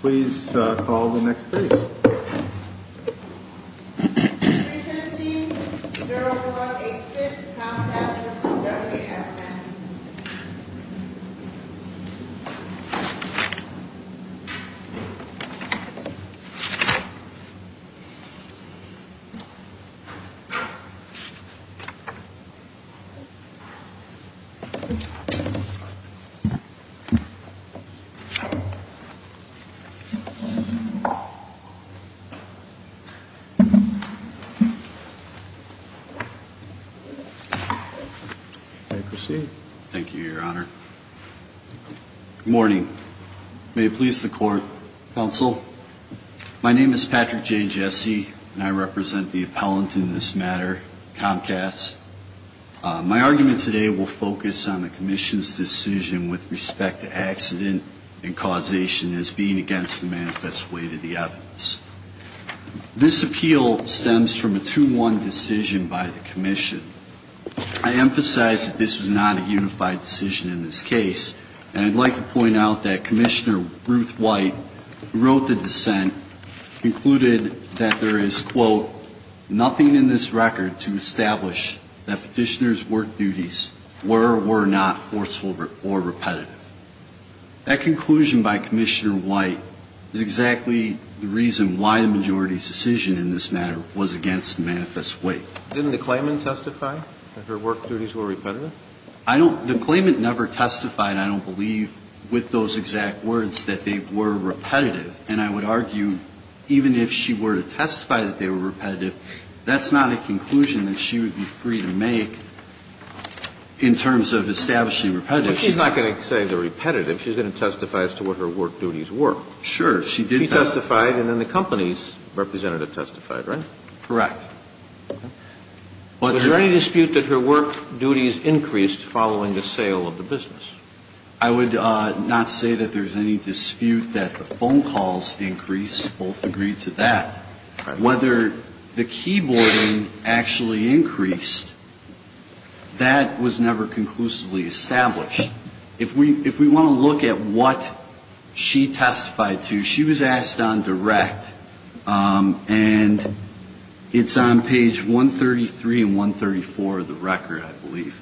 Please call the next case. 315-0186 Comcast v. WFM 315-0186 Comcast v. WFM May I proceed? Thank you, Your Honor. Good morning. May it please the Court, Counsel. My name is Patrick J. Jesse, and I represent the appellant in this matter, Comcast. My argument today will focus on the Commission's decision with respect to accident and causation as being against the manifest weight of the evidence. This appeal stems from a 2-1 decision by the Commission. I emphasize that this was not a unified decision in this case, and I'd like to point out that Commissioner Ruth White, who wrote the dissent, concluded that there is, quote, nothing in this record to establish that Petitioner's work duties were or were not forceful or repetitive. That conclusion by Commissioner White is exactly the reason why the majority's decision in this matter was against the manifest weight. Didn't the claimant testify that her work duties were repetitive? I don't – the claimant never testified, I don't believe, with those exact words that they were repetitive. And I would argue even if she were to testify that they were repetitive, that's not a conclusion that she would be free to make in terms of establishing repetitive. But she's not going to say they're repetitive. She's going to testify as to what her work duties were. Sure. She did testify. She testified, and then the company's representative testified, right? Correct. Was there any dispute that her work duties increased following the sale of the business? I would not say that there's any dispute that the phone calls increased. Both agree to that. Whether the keyboarding actually increased, that was never conclusively established. If we want to look at what she testified to, she was asked on direct, and it's on page 133 and 134 of the record, I believe.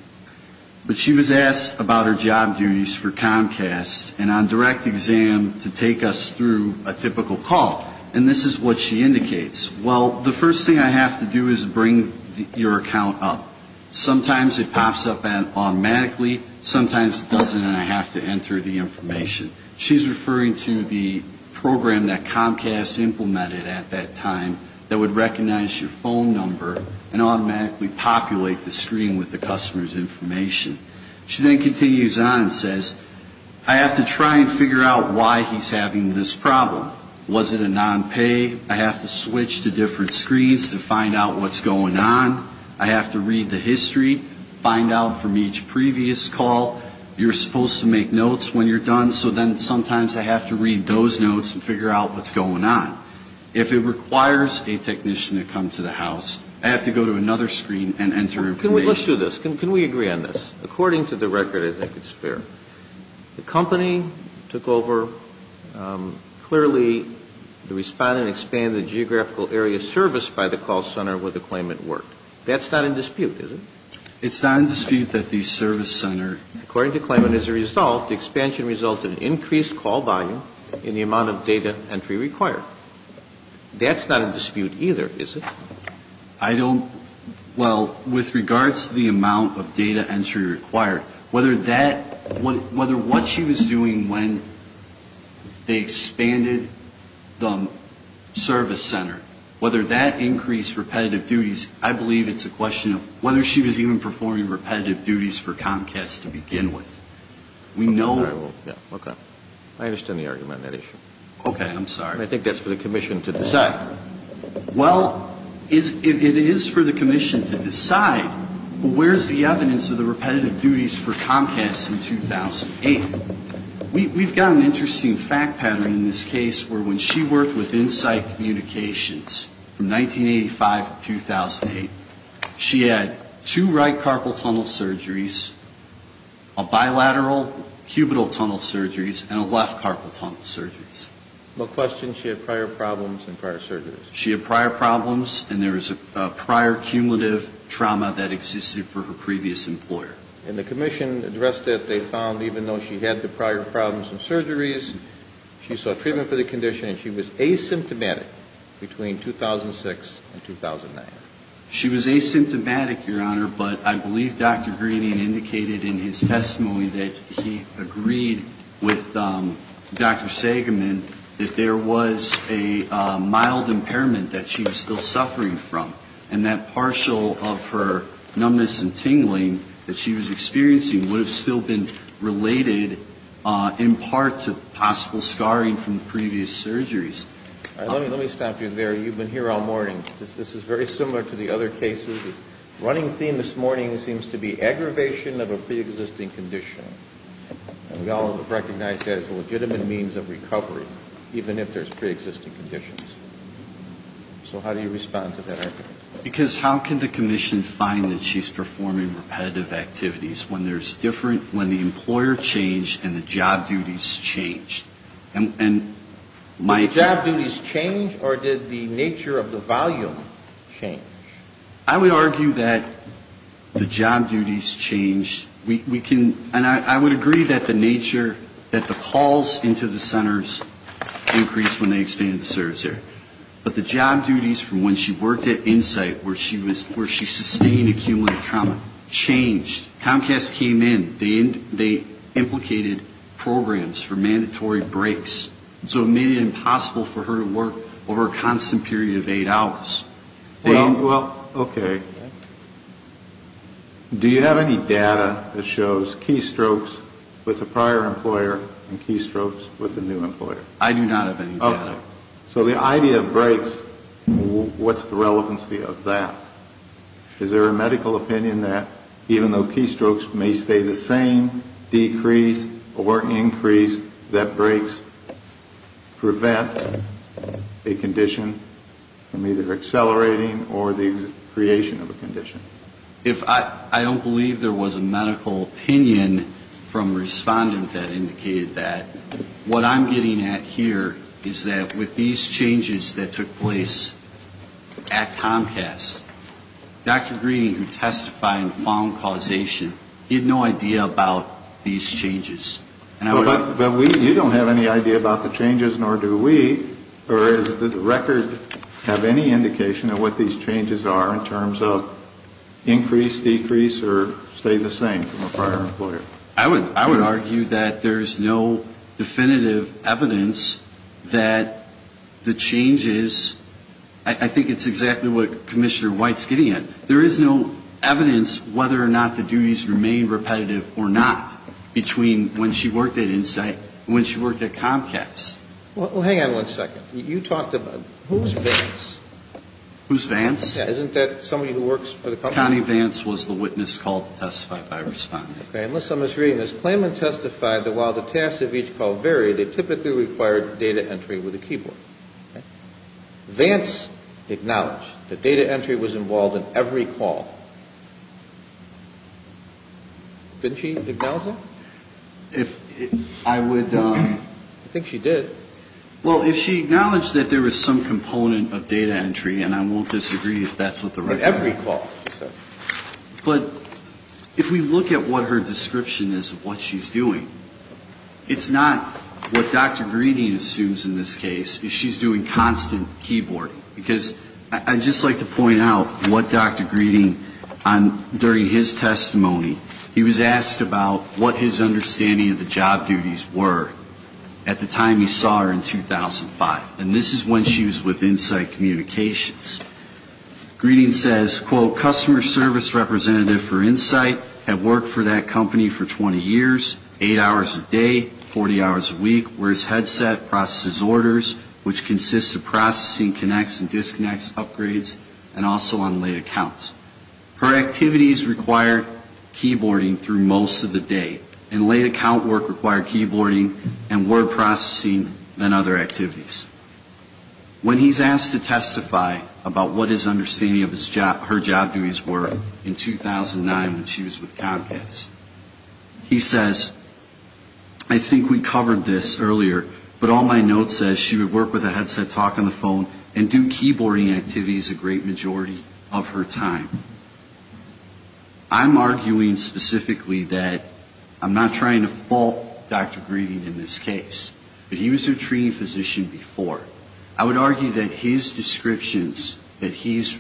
But she was asked about her job duties for Comcast and on direct exam to take us through a typical call. And this is what she indicates. Well, the first thing I have to do is bring your account up. Sometimes it pops up automatically, sometimes it doesn't, and I have to enter the information. She's referring to the program that Comcast implemented at that time that would recognize your phone number and automatically populate the screen with the customer's information. She then continues on and says, I have to try and figure out why he's having this problem. Was it a non-pay? I have to switch to different screens to find out what's going on. I have to read the history, find out from each previous call. You're supposed to make notes when you're done, so then sometimes I have to read those notes and figure out what's going on. If it requires a technician to come to the house, I have to go to another screen and enter information. Let's do this. Can we agree on this? According to the record, I think it's fair. The company took over, clearly the respondent expanded geographical area service by the call center where the claimant worked. That's not in dispute, is it? It's not in dispute that the service center. According to the claimant, as a result, the expansion resulted in increased call volume and the amount of data entry required. That's not in dispute either, is it? I don't – well, with regards to the amount of data entry required, whether that – whether what she was doing when they expanded the service center, whether that increased repetitive duties, I believe it's a question of whether she was even performing repetitive duties for Comcast to begin with. We know – Okay. I understand the argument on that issue. Okay. I'm sorry. I think that's for the commission to decide. Well, it is for the commission to decide where's the evidence of the repetitive duties for Comcast in 2008. We've got an interesting fact pattern in this case where when she worked with Insight Communications from 1985 to 2008, she had two right carpal tunnel surgeries, a bilateral cubital tunnel surgeries, and a left carpal tunnel surgeries. But question, she had prior problems and prior surgeries. She had prior problems and there was a prior cumulative trauma that existed for her previous employer. And the commission addressed it. They found even though she had the prior problems and surgeries, she saw treatment for the condition and she was asymptomatic between 2006 and 2009. She was asymptomatic, Your Honor, but I believe Dr. Greening indicated in his testimony that he agreed with Dr. Sagaman that there was a mild impairment that she was still suffering from. And that partial of her numbness and tingling that she was experiencing would have still been related in part to possible scarring from previous surgeries. All right. Let me stop you there. You've been here all morning. This is very similar to the other cases. The running theme this morning seems to be aggravation of a preexisting condition. And we all recognize that as a legitimate means of recovery, even if there's preexisting conditions. So how do you respond to that argument? Because how can the commission find that she's performing repetitive activities when there's different, when the employer changed and the job duties changed? Did job duties change or did the nature of the volume change? I would argue that the job duties changed. We can, and I would agree that the nature, that the calls into the centers increased when they expanded the service area. But the job duties from when she worked at Insight where she was, where she sustained accumulative trauma changed. Comcast came in. They implicated programs for mandatory breaks. So it made it impossible for her to work over a constant period of eight hours. Well, okay. Do you have any data that shows key strokes with a prior employer and key strokes with a new employer? I do not have any data. Okay. So the idea of breaks, what's the relevancy of that? Is there a medical opinion that even though key strokes may stay the same, decrease or increase, that breaks prevent a condition from either accelerating or the creation of a condition? If I don't believe there was a medical opinion from a respondent that indicated that, what I'm getting at here is that with these changes that took place at Comcast, Dr. Greene, who testified in found causation, he had no idea about these changes. But you don't have any idea about the changes, nor do we. Or does the record have any indication of what these changes are in terms of increase, decrease, or stay the same from a prior employer? I would argue that there's no definitive evidence that the changes, I think it's exactly what Commissioner White's getting at. There is no evidence whether or not the duties remain repetitive or not between when she worked at Insight and when she worked at Comcast. Well, hang on one second. You talked about, who's Vance? Who's Vance? Isn't that somebody who works for the company? Connie Vance was the witness called to testify by a respondent. Okay, unless I'm misreading this. Klayman testified that while the tasks of each call varied, it typically required data entry with a keyboard. Vance acknowledged that data entry was involved in every call. Didn't she acknowledge that? If I would. I think she did. Well, if she acknowledged that there was some component of data entry, and I won't disagree if that's what the record says. Every call. But if we look at what her description is of what she's doing, it's not what Dr. Greening assumes in this case. She's doing constant keyboard. Because I'd just like to point out what Dr. Greening, during his testimony, he was asked about what his understanding of the job duties were at the time he saw her in 2005. And this is when she was with Insight Communications. Greening says, quote, customer service representative for Insight, have worked for that company for 20 years, eight hours a day, 40 hours a week, where his headset processes orders, which consists of processing connects and disconnects upgrades, and also on late accounts. Her activities required keyboarding through most of the day, and late account work required keyboarding and word processing and other activities. When he's asked to testify about what his understanding of her job duties were in 2009, when she was with Comcast, he says, I think we covered this earlier, but all my notes say she would work with a headset, talk on the phone, and do keyboarding activities a great majority of her time. I'm arguing specifically that I'm not trying to fault Dr. Greening in this case. But he was her treating physician before. I would argue that his descriptions that he's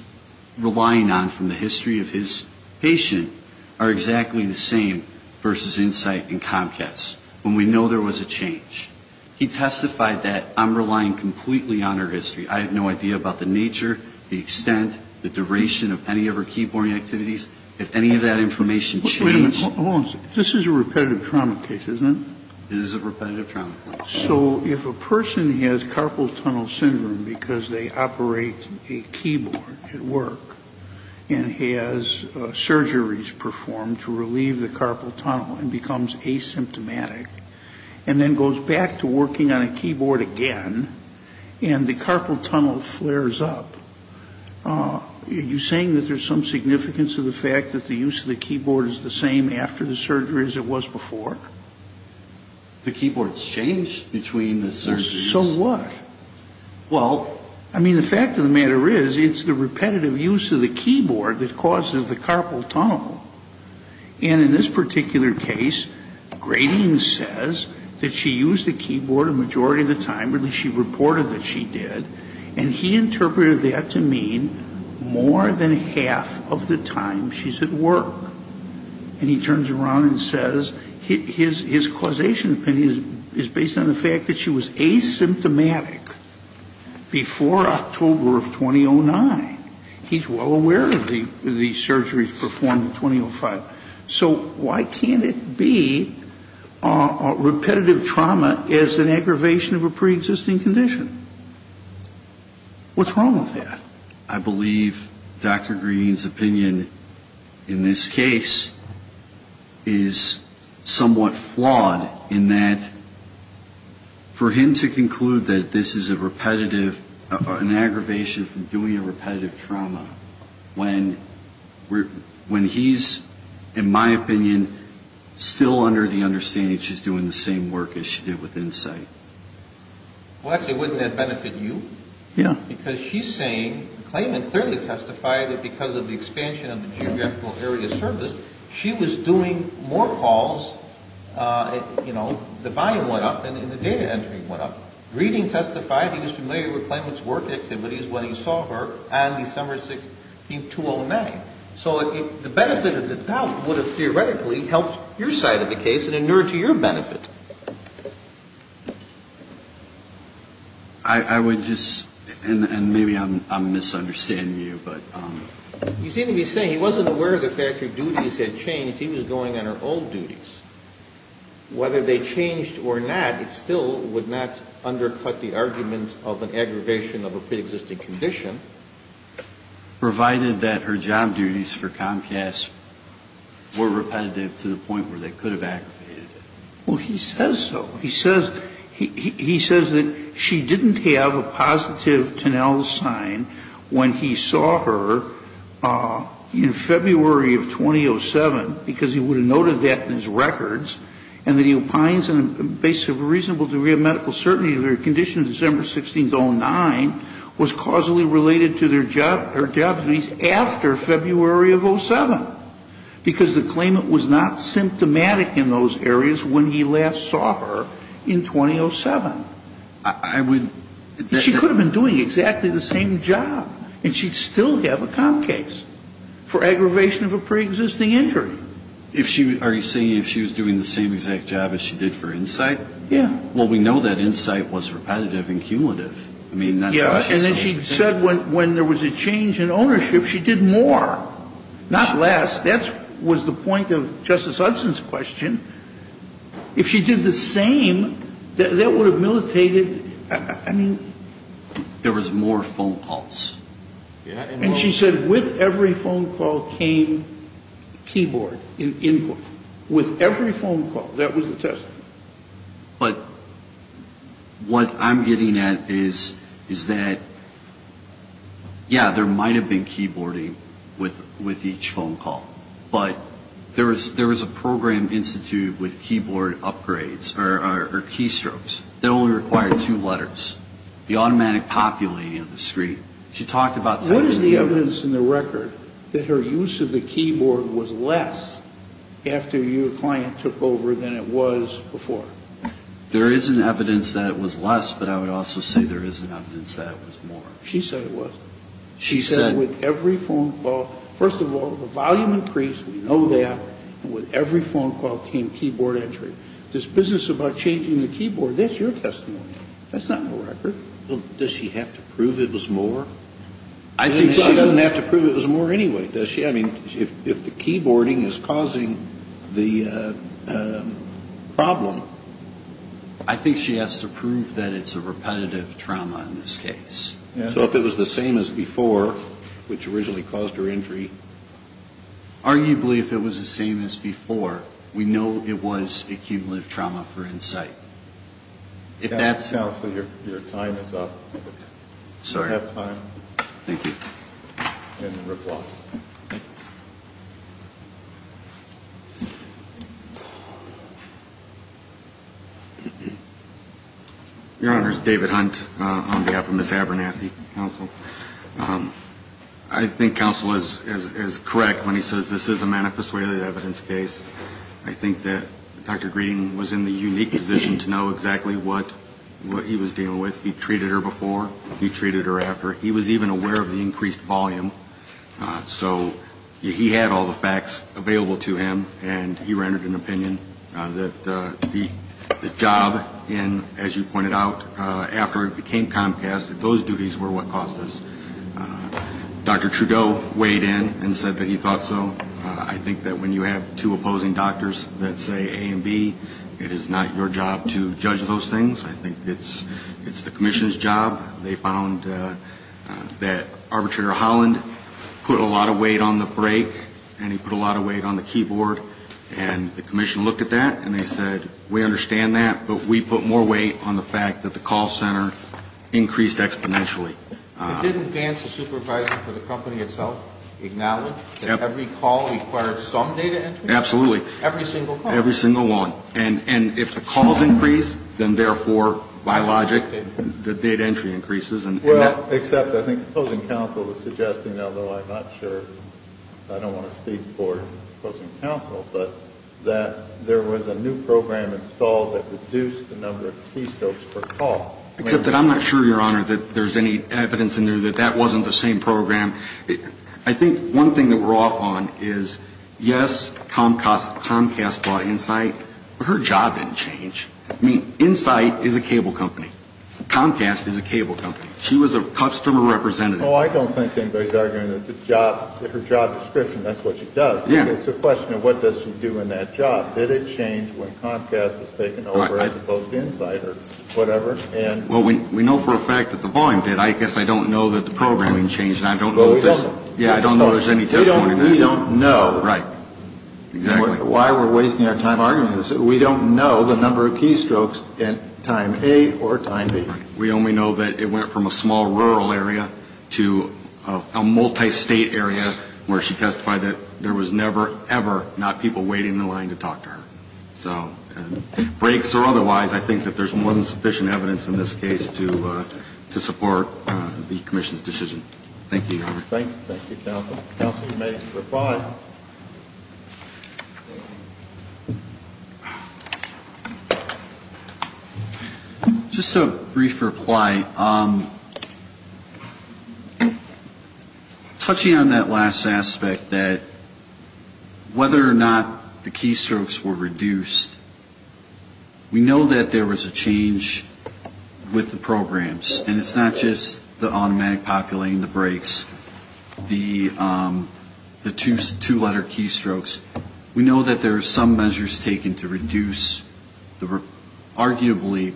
relying on from the history of his patient are exactly the same versus Insight and Comcast, when we know there was a change. He testified that I'm relying completely on her history. I have no idea about the nature, the extent, the duration of any of her keyboarding activities, if any of that information changed. Wait a minute, hold on a second. This is a repetitive trauma case, isn't it? It is a repetitive trauma case. So if a person has carpal tunnel syndrome because they operate a keyboard at work and has surgeries performed to relieve the carpal tunnel and becomes asymptomatic and then goes back to working on a keyboard again and the carpal tunnel flares up, are you saying that there's some significance to the fact that the use of the keyboard is the same after the surgery as it was before? The keyboard's changed between the surgeries. So what? Well, I mean, the fact of the matter is it's the repetitive use of the keyboard that causes the carpal tunnel. And in this particular case, Greening says that she used the keyboard a majority of the time, or at least she reported that she did, and he interpreted that to mean more than half of the time she's at work. And he turns around and says his causation opinion is based on the fact that she was asymptomatic before October of 2009. He's well aware of the surgeries performed in 2005. So why can't it be repetitive trauma as an aggravation of a preexisting condition? What's wrong with that? I believe Dr. Green's opinion in this case is somewhat flawed in that for him to conclude that this is a repetitive, an aggravation from doing a repetitive trauma, when he's, in my opinion, still under the understanding she's doing the same work as she did with Insight. Well, actually, wouldn't that benefit you? Yeah. Because she's saying, Clayman clearly testified that because of the expansion of the geographical area of service, she was doing more calls, you know, the volume went up and the data entry went up. Greening testified he was familiar with Clayman's work activities when he saw her on December 6th, 2009. So the benefit of the doubt would have theoretically helped your side of the case and inured to your benefit. I would just, and maybe I'm misunderstanding you, but. You seem to be saying he wasn't aware of the fact her duties had changed. He was going on her old duties. Whether they changed or not, it still would not undercut the argument of an aggravation of a preexisting condition. Provided that her job duties for Comcast were repetitive to the point where they could have aggravated it. Well, he says so. He says that she didn't have a positive Tonell sign when he saw her in February of 2007, because he would have noted that in his records, and that he opines in a reasonable degree of medical certainty that her condition December 16, 2009 was causally related to her job duties after February of 2007, because the claimant was not symptomatic in those areas when he last saw her in 2007. I would. She could have been doing exactly the same job, and she'd still have a Comcast for aggravation of a preexisting injury. So if she was, are you saying if she was doing the same exact job as she did for Insight? Yeah. Well, we know that Insight was repetitive and cumulative. I mean, that's how she saw it. Yeah. And then she said when there was a change in ownership, she did more, not less. That was the point of Justice Hudson's question. If she did the same, that would have militated, I mean. There was more phone calls. Yeah. And she said with every phone call came keyboard input. With every phone call. That was the testimony. But what I'm getting at is that, yeah, there might have been keyboarding with each phone call, but there was a program instituted with keyboard upgrades or keystrokes that only required two letters, the automatic populating of the screen. She talked about typing. What is the evidence in the record that her use of the keyboard was less after your client took over than it was before? There is an evidence that it was less, but I would also say there is an evidence that it was more. She said it was. She said with every phone call. First of all, the volume increased. We know that. And with every phone call came keyboard entry. This business about changing the keyboard, that's your testimony. That's not in the record. Does she have to prove it was more? I think she doesn't have to prove it was more anyway. Does she? I mean, if the keyboarding is causing the problem. I think she has to prove that it's a repetitive trauma in this case. So if it was the same as before, which originally caused her injury. Arguably, if it was the same as before, we know it was accumulative trauma for insight. Counsel, your time is up. Sorry. I have time. Thank you. And reply. Your Honor, this is David Hunt on behalf of Ms. Abernathy, counsel. I think counsel is correct when he says this is a manifest way of the evidence case. I think that Dr. Green was in the unique position to know exactly what he was dealing with. He treated her before. He treated her after. He was even aware of the increased volume. So he had all the facts available to him, and he rendered an opinion that the job in, as you pointed out, after it became Comcast, those duties were what caused this. Dr. Trudeau weighed in and said that he thought so. I think that when you have two opposing doctors that say A and B, it is not your job to judge those things. I think it's the commission's job. They found that Arbitrator Holland put a lot of weight on the brake, and he put a lot of weight on the keyboard. And the commission looked at that, and they said, we understand that, but we put more weight on the fact that the call center increased exponentially. Didn't Vance, the supervisor for the company itself, acknowledge that every call required some data entry? Absolutely. Every single one. Every single one. And if the calls increase, then therefore, by logic, the data entry increases. Well, except I think the opposing counsel was suggesting, although I'm not sure I don't want to speak for opposing counsel, but that there was a new program installed that reduced the number of keystrokes per call. Except that I'm not sure, Your Honor, that there's any evidence in there that that wasn't the same program. I think one thing that we're off on is, yes, Comcast bought Insight, but her job didn't change. I mean, Insight is a cable company. Comcast is a cable company. She was a customer representative. Well, I don't think anybody's arguing that her job description, that's what she does. It's a question of what does she do in that job. Did it change when Comcast was taken over as opposed to Insight or whatever? Well, we know for a fact that the volume did. I guess I don't know that the programming changed. Well, we don't. Yeah, I don't know there's any testimony to that. We don't know. Right. Exactly. Why we're wasting our time arguing this. We don't know the number of keystrokes at time A or time B. We only know that it went from a small rural area to a multi-state area where she testified that there was never, ever not people waiting in line to talk to her. So breaks or otherwise, I think that there's more than sufficient evidence in this case to support the commission's decision. Thank you, Your Honor. Thank you, counsel. Counsel, you may reply. Just a brief reply. Touching on that last aspect that whether or not the keystrokes were reduced, we know that there was a change with the programs. And it's not just the automatic populating the breaks, the two-letter keystrokes. We know that there are some measures taken to reduce arguably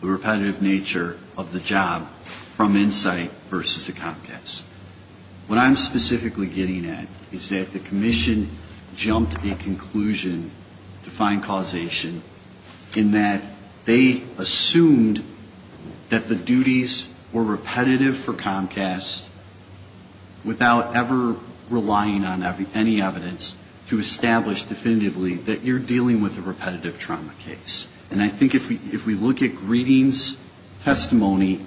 the repetitive nature of the job from insight versus a Comcast. What I'm specifically getting at is that the commission jumped a conclusion to find causation in that they assumed that the duties were repetitive for Comcast without ever relying on any evidence to establish definitively that you're dealing with a repetitive trauma case. And I think if we look at Greeding's testimony,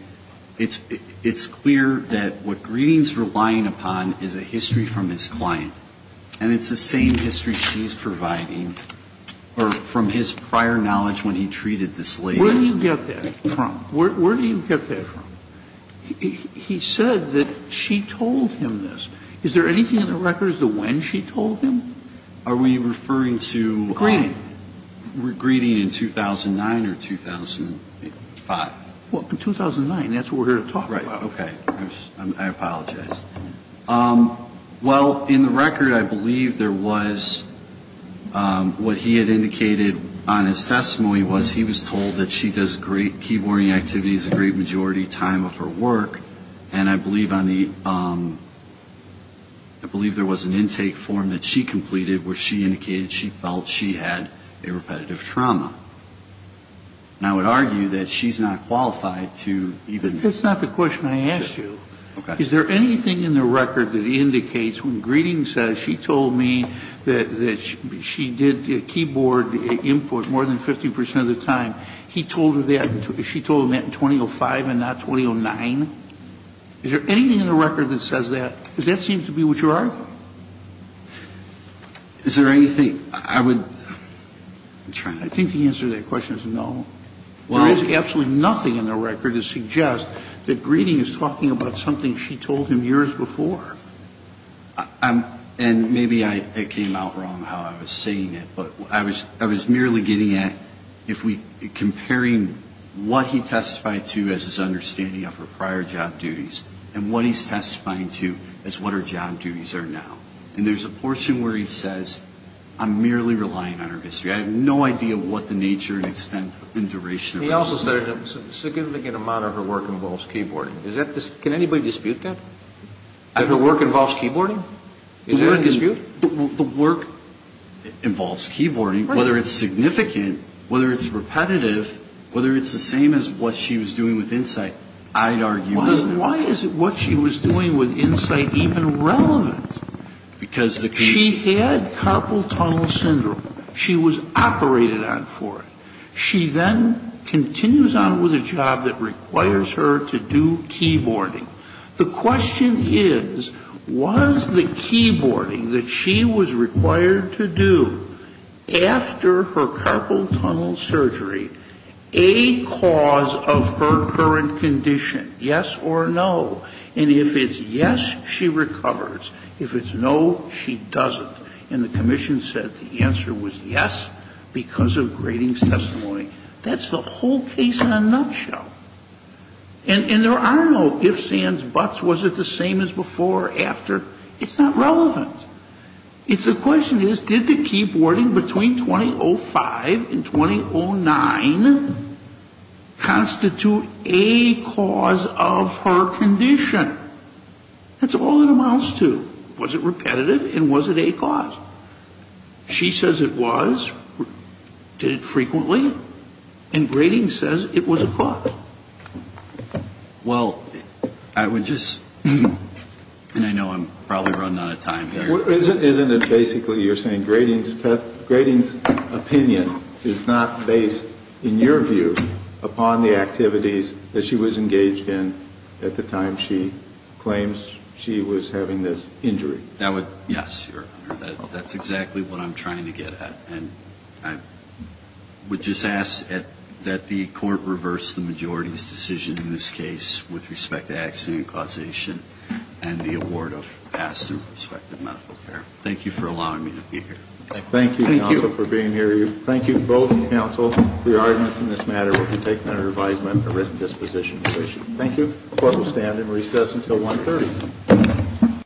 it's clear that what Greeding's relying upon is a history from his client. And it's the same history she's providing from his prior knowledge when he treated this lady. Where do you get that from? Where do you get that from? He said that she told him this. Is there anything in the records of when she told him? Are we referring to Greeding? Greeding in 2009 or 2005? Well, 2009. That's what we're here to talk about. Right. Okay. I apologize. Well, in the record, I believe there was what he had indicated on his testimony was he was told that she does great keyboarding activities a great majority of the time of her work. And I believe on the ‑‑ I believe there was an intake form that she completed where she indicated she felt she had a repetitive trauma. And I would argue that she's not qualified to even ‑‑ That's not the question I asked you. Okay. Is there anything in the record that indicates when Greeding says she told me that she did keyboard input more than 50 percent of the time, he told her that, she told him that in 2005 and not 2009? Is there anything in the record that says that? Because that seems to be what you're arguing. Is there anything I would ‑‑ I'm trying to ‑‑ I think the answer to that question is no. Well ‑‑ There is absolutely nothing in the record that suggests that Greeding is talking about something she told him years before. And maybe I came out wrong how I was saying it. But I was merely getting at if we ‑‑ comparing what he testified to as his understanding of her prior job duties and what he's testifying to as what her job duties are now. And there's a portion where he says I'm merely relying on her history. I have no idea what the nature and extent and duration of ‑‑ He also said a significant amount of her work involves keyboarding. Is that ‑‑ can anybody dispute that? That her work involves keyboarding? Is there a dispute? The work involves keyboarding, whether it's significant, whether it's repetitive, whether it's the same as what she was doing with insight, I'd argue is no. Why is what she was doing with insight even relevant? Because the key ‑‑ She had carpal tunnel syndrome. She was operated on for it. She then continues on with a job that requires her to do keyboarding. The question is, was the keyboarding that she was required to do after her carpal tunnel surgery a cause of her current condition? Yes or no? And if it's yes, she recovers. If it's no, she doesn't. And the commission said the answer was yes because of Grading's testimony. That's the whole case in a nutshell. And there are no ifs, ands, buts. Was it the same as before or after? It's not relevant. The question is, did the keyboarding between 2005 and 2009 constitute a cause of her condition? That's all it amounts to. Was it repetitive and was it a cause? She says it was. Did it frequently? And Grading says it was a cause. Well, I would just, and I know I'm probably running out of time here. Isn't it basically you're saying Grading's opinion is not based, in your view, upon the activities that she was engaged in at the time she claims she was having this injury? Yes, Your Honor. That's exactly what I'm trying to get at. And I would just ask that the court reverse the majority's decision in this case with respect to accident and causation and the award of past and prospective medical care. Thank you for allowing me to be here. Thank you, counsel, for being here. Thank you both, counsel, for your arguments in this matter. We'll take them under advisement at written disposition. Thank you. The court will stand and recess until 1.30.